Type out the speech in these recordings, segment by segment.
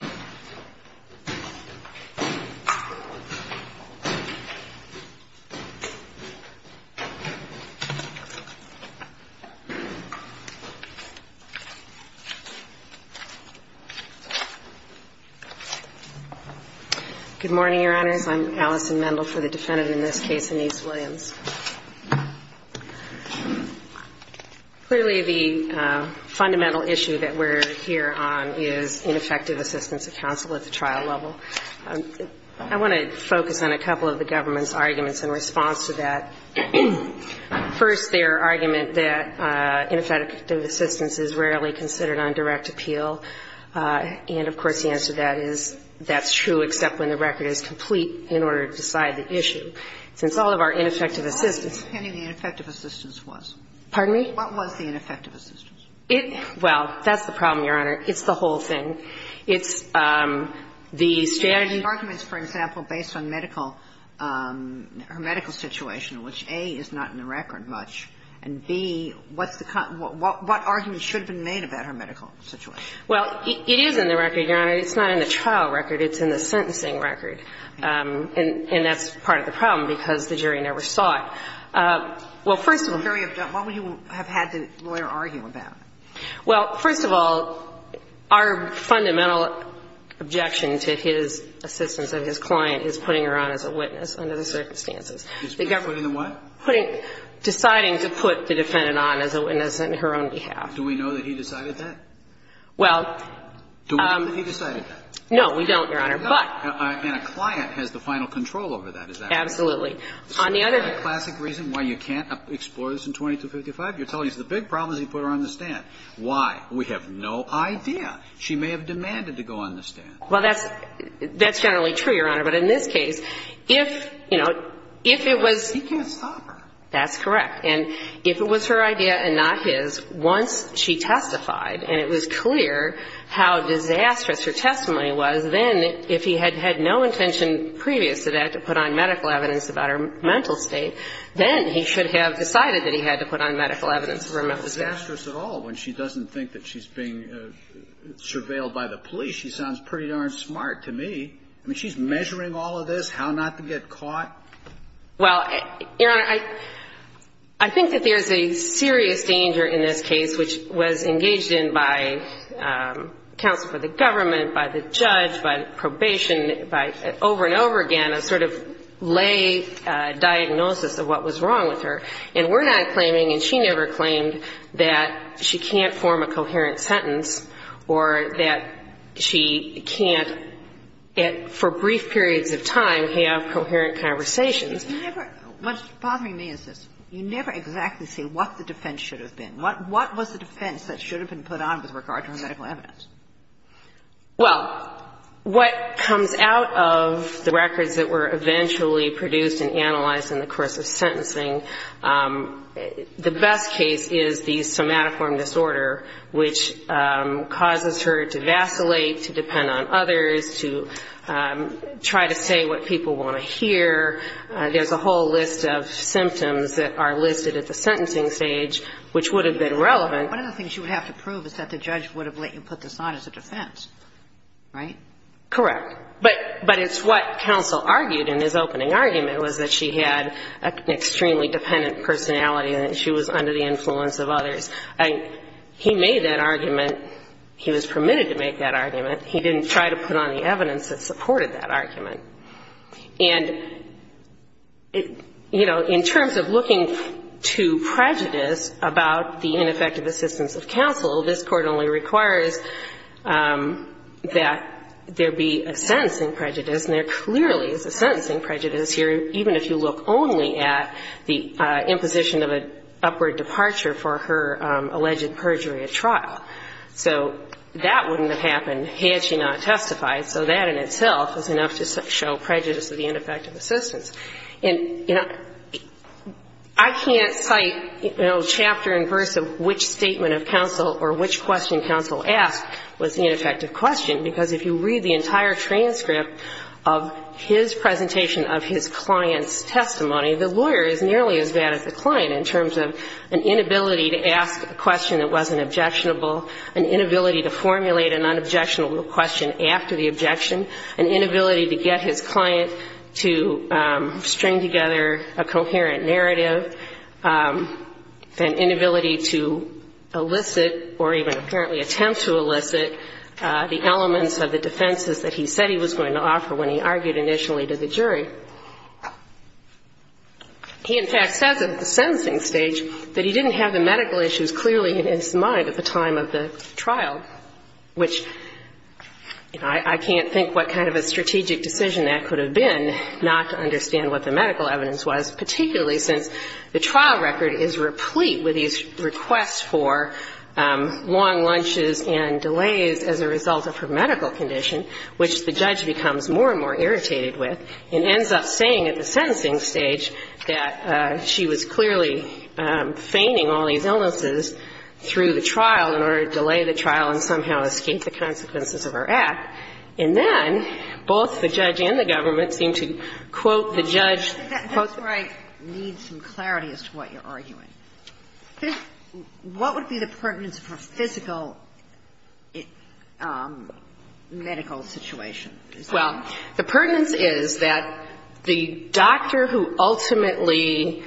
Good morning, Your Honors. I'm Allison Mendel for the defendant in this case, Anise Williams. Clearly, the fundamental issue that we're here on is ineffective assistance of counsel at the trial level. I want to focus on a couple of the government's arguments in response to that. First, their argument that ineffective assistance is rarely considered on direct appeal. And, of course, the answer to that is that's true except when the record is complete in order to decide the issue. Since all of our ineffective assistance – What was the ineffective assistance? Pardon me? What was the ineffective assistance? Well, that's the problem, Your Honor. It's the whole thing. It's the standard – The arguments, for example, based on medical – her medical situation, which, A, is not in the record much, and, B, what's the – what arguments should have been made about her medical situation? Well, it is in the record, Your Honor. It's not in the trial record. It's in the sentencing record. And that's part of the problem because the jury never saw it. Well, first of all – What would you have had the lawyer argue about? Well, first of all, our fundamental objection to his assistance of his client is putting her on as a witness under the circumstances. Putting the what? Deciding to put the defendant on as a witness on her own behalf. Do we know that he decided that? Well – Do we know that he decided that? No, we don't, Your Honor. But – And a client has the final control over that, is that right? Absolutely. On the other – Is that a classic reason why you can't explore this in 2255? You're telling us the big problem is he put her on the stand. Why? We have no idea. She may have demanded to go on the stand. Well, that's – that's generally true, Your Honor. But in this case, if, you know, if it was – He can't stop her. That's correct. And if it was her idea and not his, once she testified and it was clear how disastrous her testimony was, then if he had had no intention previous to that to put on medical evidence about her mental state, then he should have decided that he had to put on medical evidence for her mental state. She's not disastrous at all when she doesn't think that she's being surveilled by the police. She sounds pretty darn smart to me. I mean, she's measuring all of this, how not to get caught. Well, Your Honor, I think that there's a serious danger in this case, which was engaged in by counsel for the government, by the judge, by probation, by – over and over again, a sort of lay diagnosis of what was wrong with her. And we're not claiming, and she never claimed, that she can't form a coherent sentence or that she can't, for brief periods of time, have coherent conversations. You never – what's bothering me is this. You never exactly say what the defense should have been. What was the defense that should have been put on with regard to her medical evidence? Well, what comes out of the records that were eventually produced and analyzed in the course of sentencing, the best case is the somatoform disorder, which causes her to vacillate, to depend on others, to try to say what people want to hear. There's a whole list of symptoms that are listed at the sentencing stage, which would have been relevant. One of the things you would have to prove is that the judge would have let you put this on as a defense, right? Correct. But it's what counsel argued in his opening argument was that she had an extremely dependent personality and that she was under the influence of others. He made that argument. He was permitted to make that argument. He didn't try to put on the evidence that supported that argument. And, you know, in terms of looking to prejudice about the ineffective assistance of counsel, this Court only requires that there be a sentencing prejudice. And there clearly is a sentencing prejudice here, even if you look only at the imposition of an upward departure for her alleged perjury at trial. So that wouldn't have happened had she not testified. So that in itself is enough to show prejudice of the ineffective assistance. And, you know, I can't cite, you know, chapter and verse of which statement of counsel or which question counsel asked was the ineffective question, because if you read the entire transcript of his presentation of his client's testimony, the lawyer is nearly as bad as the client in terms of an inability to ask a question that wasn't objectionable, an inability to formulate an unobjectionable question after the objection, an inability to get his client to string together a coherent narrative, an inability to elicit or even apparently attempt to elicit the elements of the defenses that he said he was going to offer when he argued initially to the jury. He, in fact, says at the sentencing stage that he didn't have the medical issues clearly in his mind at the time of the trial, which I can't think what kind of a strategic decision that could have been not to understand what the medical evidence was, particularly since the trial record is replete with these requests for long lunches and delays as a result of her medical condition, which the judge becomes more and more irritated with, and ends up saying at the sentencing stage that she was clearly feigning all these illnesses through the trial in order to delay the trial and somehow escape the consequences of her act. And then both the judge and the government seem to quote the judge, quote the judge. Well, the pertinence is that the doctor who ultimately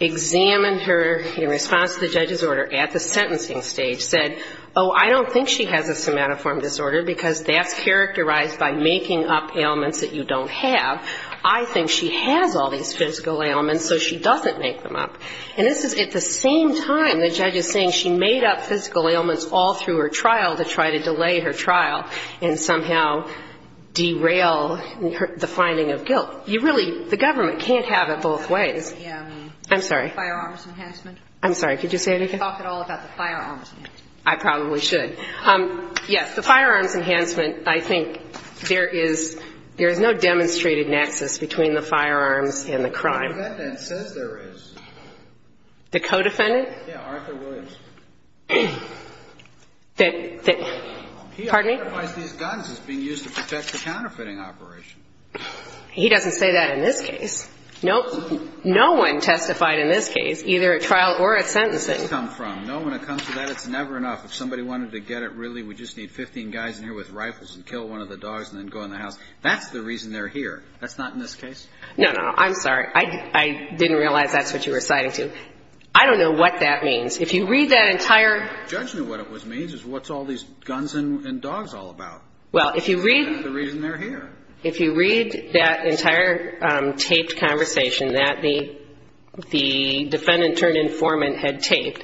examined her in response to the judge's order at the sentencing stage said, oh, I don't think she has a somatoform disorder because that's characterized by making up ailments that you don't have. I think she has all these physical ailments, so she doesn't make them up. And this is at the same time the judge is saying she made up physical ailments all through her trial to try to delay her trial and somehow derail the finding of guilt. You really, the government can't have it both ways. I'm sorry. Firearms enhancement. I'm sorry. Could you say it again? Talk at all about the firearms enhancement. I probably should. Yes, the firearms enhancement, I think there is no demonstrated nexus between the firearms and the crime. The defendant says there is. The co-defendant? Yeah, Arthur Woods. Pardon me? He identifies these guns as being used to protect the counterfeiting operation. He doesn't say that in this case. No one testified in this case, either at trial or at sentencing. Where does this come from? No one had come to that. It's never enough. If somebody wanted to get it, really, we just need 15 guys in here with rifles and kill one of the dogs and then go in the house. That's the reason they're here. That's not in this case? No, no. I'm sorry. I didn't realize that's what you were citing, too. I don't know what that means. If you read that entire Judgment of what it means is what's all these guns and dogs all about. Well, if you read That's the reason they're here. If you read that entire taped conversation that the defendant turned informant had taped,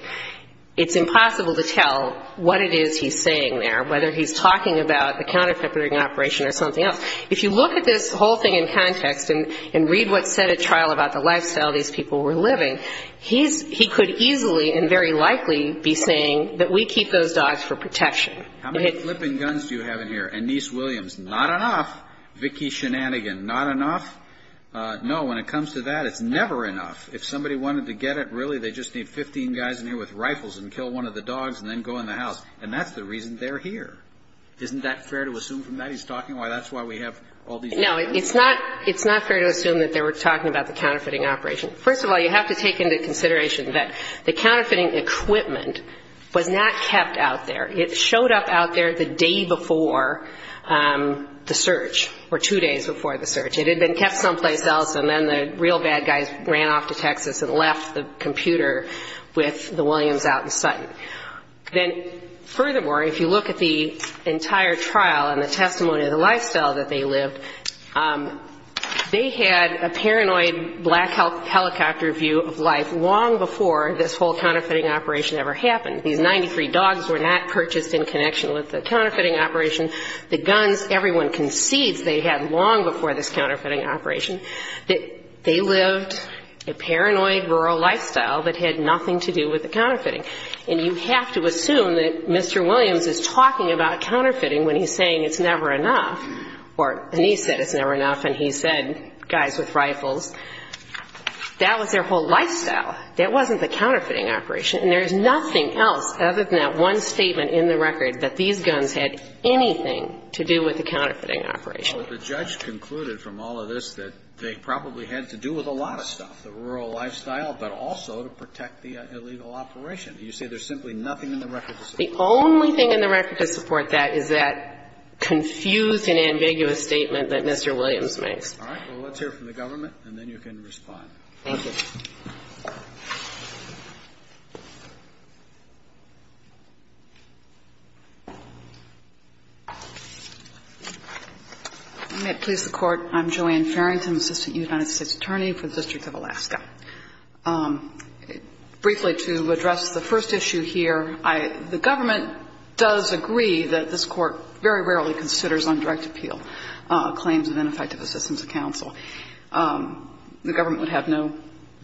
it's impossible to tell what it is he's saying there, whether he's talking about the counterfeiting operation or something else. If you look at this whole thing in context and read what's said at trial about the lifestyle these people were living, he could easily and very likely be saying that we keep those dogs for protection. How many flipping guns do you have in here? Annise Williams, not enough. Vicki Shenanigan, not enough. No, when it comes to that, it's never enough. If somebody wanted to get it, really, they just need 15 guys in here with rifles and kill one of the dogs and then go in the house. And that's the reason they're here. Isn't that fair to assume from that? He's talking about why that's why we have all these No, it's not fair to assume that they were talking about the counterfeiting operation. First of all, you have to take into consideration that the counterfeiting equipment was not kept out there. It showed up out there the day before the search or two days before the search. It had been kept someplace else, and then the real bad guys ran off to Texas and left the computer with the Williams out in sight. Then, furthermore, if you look at the entire trial and the testimony of the lifestyle that they lived, they had a paranoid black helicopter view of life long before this whole counterfeiting operation ever happened. These 93 dogs were not purchased in connection with the counterfeiting operation. The guns, everyone concedes they had long before this counterfeiting operation. They lived a paranoid rural lifestyle that had nothing to do with the counterfeiting. And you have to assume that Mr. Williams is talking about counterfeiting when he's saying it's never enough. Or, and he said it's never enough, and he said, guys with rifles, that was their whole lifestyle. That wasn't the counterfeiting operation. And there's nothing else other than that one statement in the record that these guns had anything to do with the counterfeiting operation. Well, the judge concluded from all of this that they probably had to do with a lot of stuff, the rural lifestyle, but also to protect the illegal operation. You say there's simply nothing in the record to support that. Is that confused and ambiguous statement that Mr. Williams makes? All right. Well, let's hear from the government, and then you can respond. Thank you. May it please the Court. I'm Joanne Farrington, Assistant United States Attorney for the District of Alaska. Briefly, to address the first issue here, the government does agree that this Court very rarely considers on direct appeal claims of ineffective assistance to counsel. The government would have no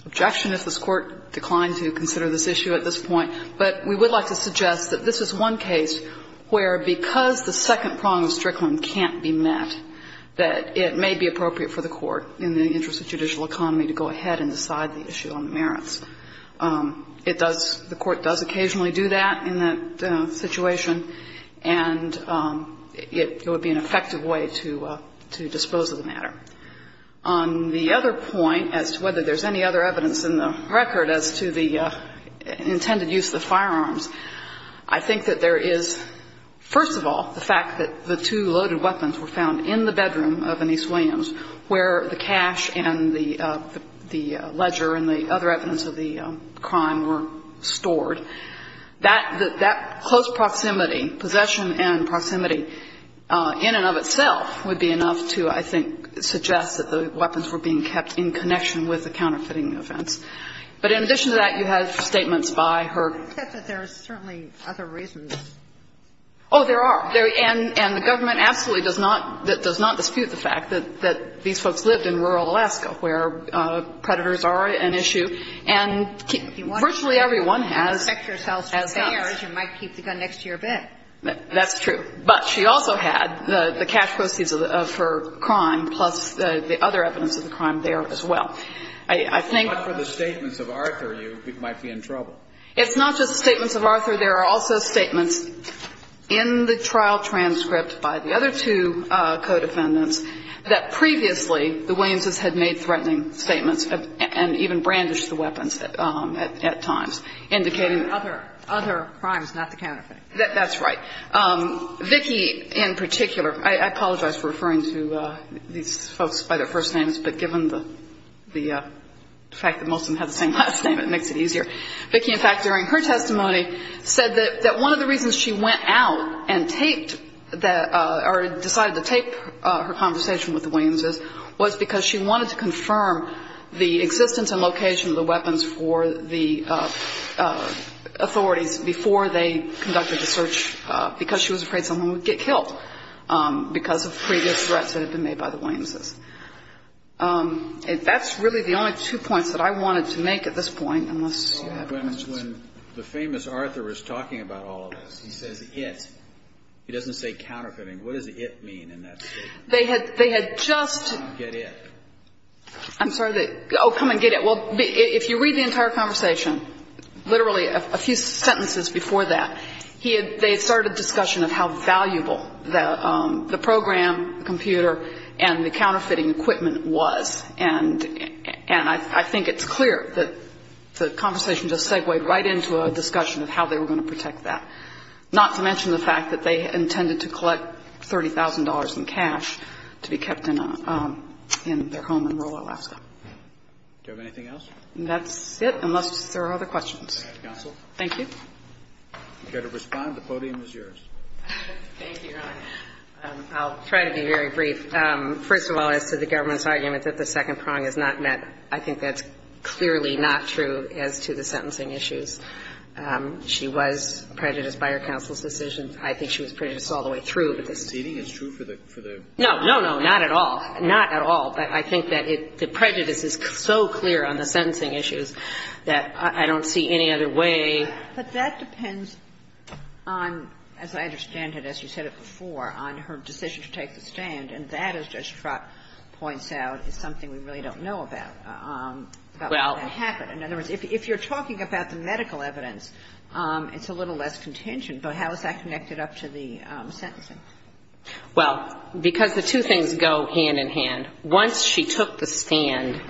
objection if this Court declined to consider this issue at this point. But we would like to suggest that this is one case where, because the second prong of Strickland can't be met, that it may be appropriate for the Court, in the interest of judicial economy, to go ahead and decide the issue on merits. It does, the Court does occasionally do that in that situation, and it would be an effective way to dispose of the matter. On the other point, as to whether there's any other evidence in the record as to the intended use of the firearms, I think that there is, first of all, the fact that the two loaded weapons were found in the bedroom of Anise Williams, where the cash and the ledger and the other evidence of the crime were stored. That close proximity, possession and proximity, in and of itself, would be enough to, I think, suggest that the weapons were being kept in connection with the counterfeiting offense. But in addition to that, you have statements by her. Sotomayor, you said that there are certainly other reasons. Oh, there are. And the government absolutely does not dispute the fact that these folks lived in rural Alaska, where predators are an issue, and virtually everyone has guns. You might keep the gun next to your bed. That's true. But she also had the cash proceeds of her crime, plus the other evidence of the crime there as well. I think the statements of Arthur, you might be in trouble. It's not just statements of Arthur. There are also statements in the trial transcript by the other two co-defendants that previously the Williamses had made threatening statements and even brandished the weapons at times, indicating other crimes, not the counterfeiting. That's right. Vicki, in particular, I apologize for referring to these folks by their first names, but given the fact that most of them have the same last name, it makes it easier. Vicki, in fact, during her testimony said that one of the reasons she went out and taped or decided to tape her conversation with the Williamses was because she wanted to confirm the existence and location of the weapons for the authorities before they conducted the search because she was afraid someone would get killed because of previous threats that had been made by the Williamses. And that's really the only two points that I wanted to make at this point, unless you had questions. When the famous Arthur is talking about all of this, he says it. He doesn't say counterfeiting. What does it mean in that statement? They had just. Get it. I'm sorry. Oh, come and get it. Well, if you read the entire conversation, literally a few sentences before that, they started a discussion of how valuable the program, the computer, and the counterfeiting equipment was. And I think it's clear that the conversation just segued right into a discussion of how they were going to protect that, not to mention the fact that they intended to collect $30,000 in cash to be kept in their home in rural Alaska. Do you have anything else? That's it, unless there are other questions. Counsel. Thank you. You've got to respond. The podium is yours. Thank you, Your Honor. I'll try to be very brief. First of all, as to the government's argument that the second prong is not met, I think that's clearly not true as to the sentencing issues. She was prejudiced by her counsel's decisions. I think she was prejudiced all the way through. But the seating is true for the... No, no, no, not at all. Not at all. But I think that the prejudice is so clear on the sentencing issues that I don't see any other way. But that depends on, as I understand it, as you said it before, on her decision to take the stand, and that, as Judge Trott points out, is something we really don't know about. Well. About what happened. In other words, if you're talking about the medical evidence, it's a little less contention, but how is that connected up to the sentencing? Well, because the two things go hand in hand. Once she took the stand,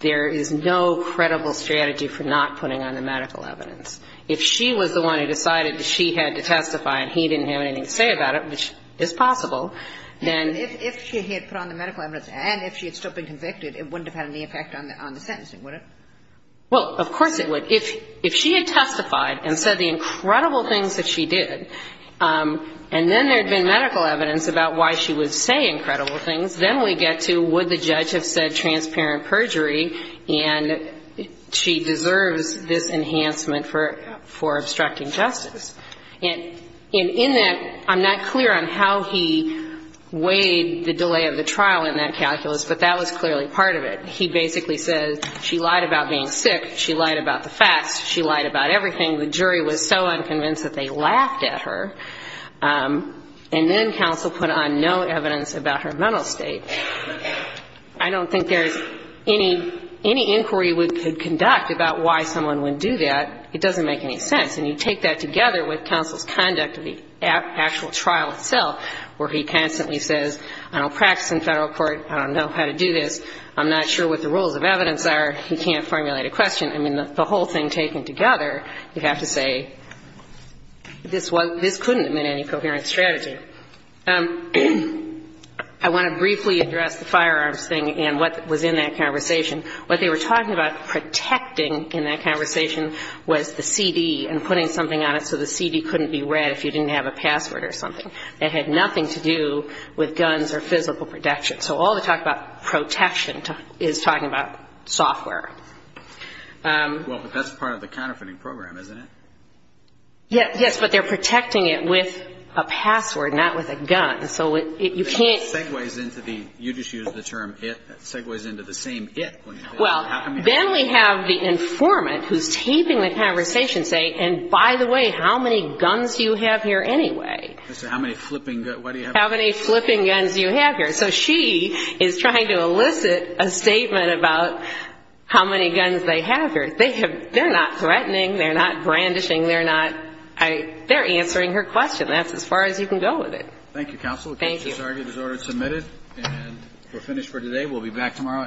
there is no credible strategy for not putting on the medical evidence. If she was the one who decided that she had to testify and he didn't have anything to say about it, which is possible, then... If she had put on the medical evidence and if she had still been convicted, it wouldn't have had any effect on the sentencing, would it? Well, of course it would. If she had testified and said the incredible things that she did, and then there to, would the judge have said transparent perjury? And she deserves this enhancement for obstructing justice. And in that, I'm not clear on how he weighed the delay of the trial in that calculus, but that was clearly part of it. He basically said she lied about being sick, she lied about the facts, she lied about everything. The jury was so unconvinced that they laughed at her. And then counsel put on no evidence about her mental state. I don't think there's any inquiry we could conduct about why someone would do that. It doesn't make any sense. And you take that together with counsel's conduct of the actual trial itself, where he constantly says, I don't practice in Federal court, I don't know how to do this, I'm not sure what the rules of evidence are, he can't formulate a question. I mean, the whole thing taken together, you have to say, this couldn't have been any coherent strategy. I want to briefly address the firearms thing and what was in that conversation. What they were talking about protecting in that conversation was the CD and putting something on it so the CD couldn't be read if you didn't have a password or something. It had nothing to do with guns or physical protection. So all the talk about protection is talking about software. Well, but that's part of the counterfeiting program, isn't it? Yes, but they're protecting it with a password, not with a gun. So you can't... It segues into the, you just used the term, it segues into the same it. Well, then we have the informant who's taping the conversation saying, and by the way, how many guns do you have here anyway? How many flipping guns, what do you have? How many flipping guns do you have here? So she is trying to elicit a statement about how many guns they have here. They're not threatening, they're not brandishing, they're not, they're answering her question. That's as far as you can go with it. Thank you, counsel. Thank you. The case has already been submitted and we're finished for today. We'll be back tomorrow at 9 o'clock. All rise.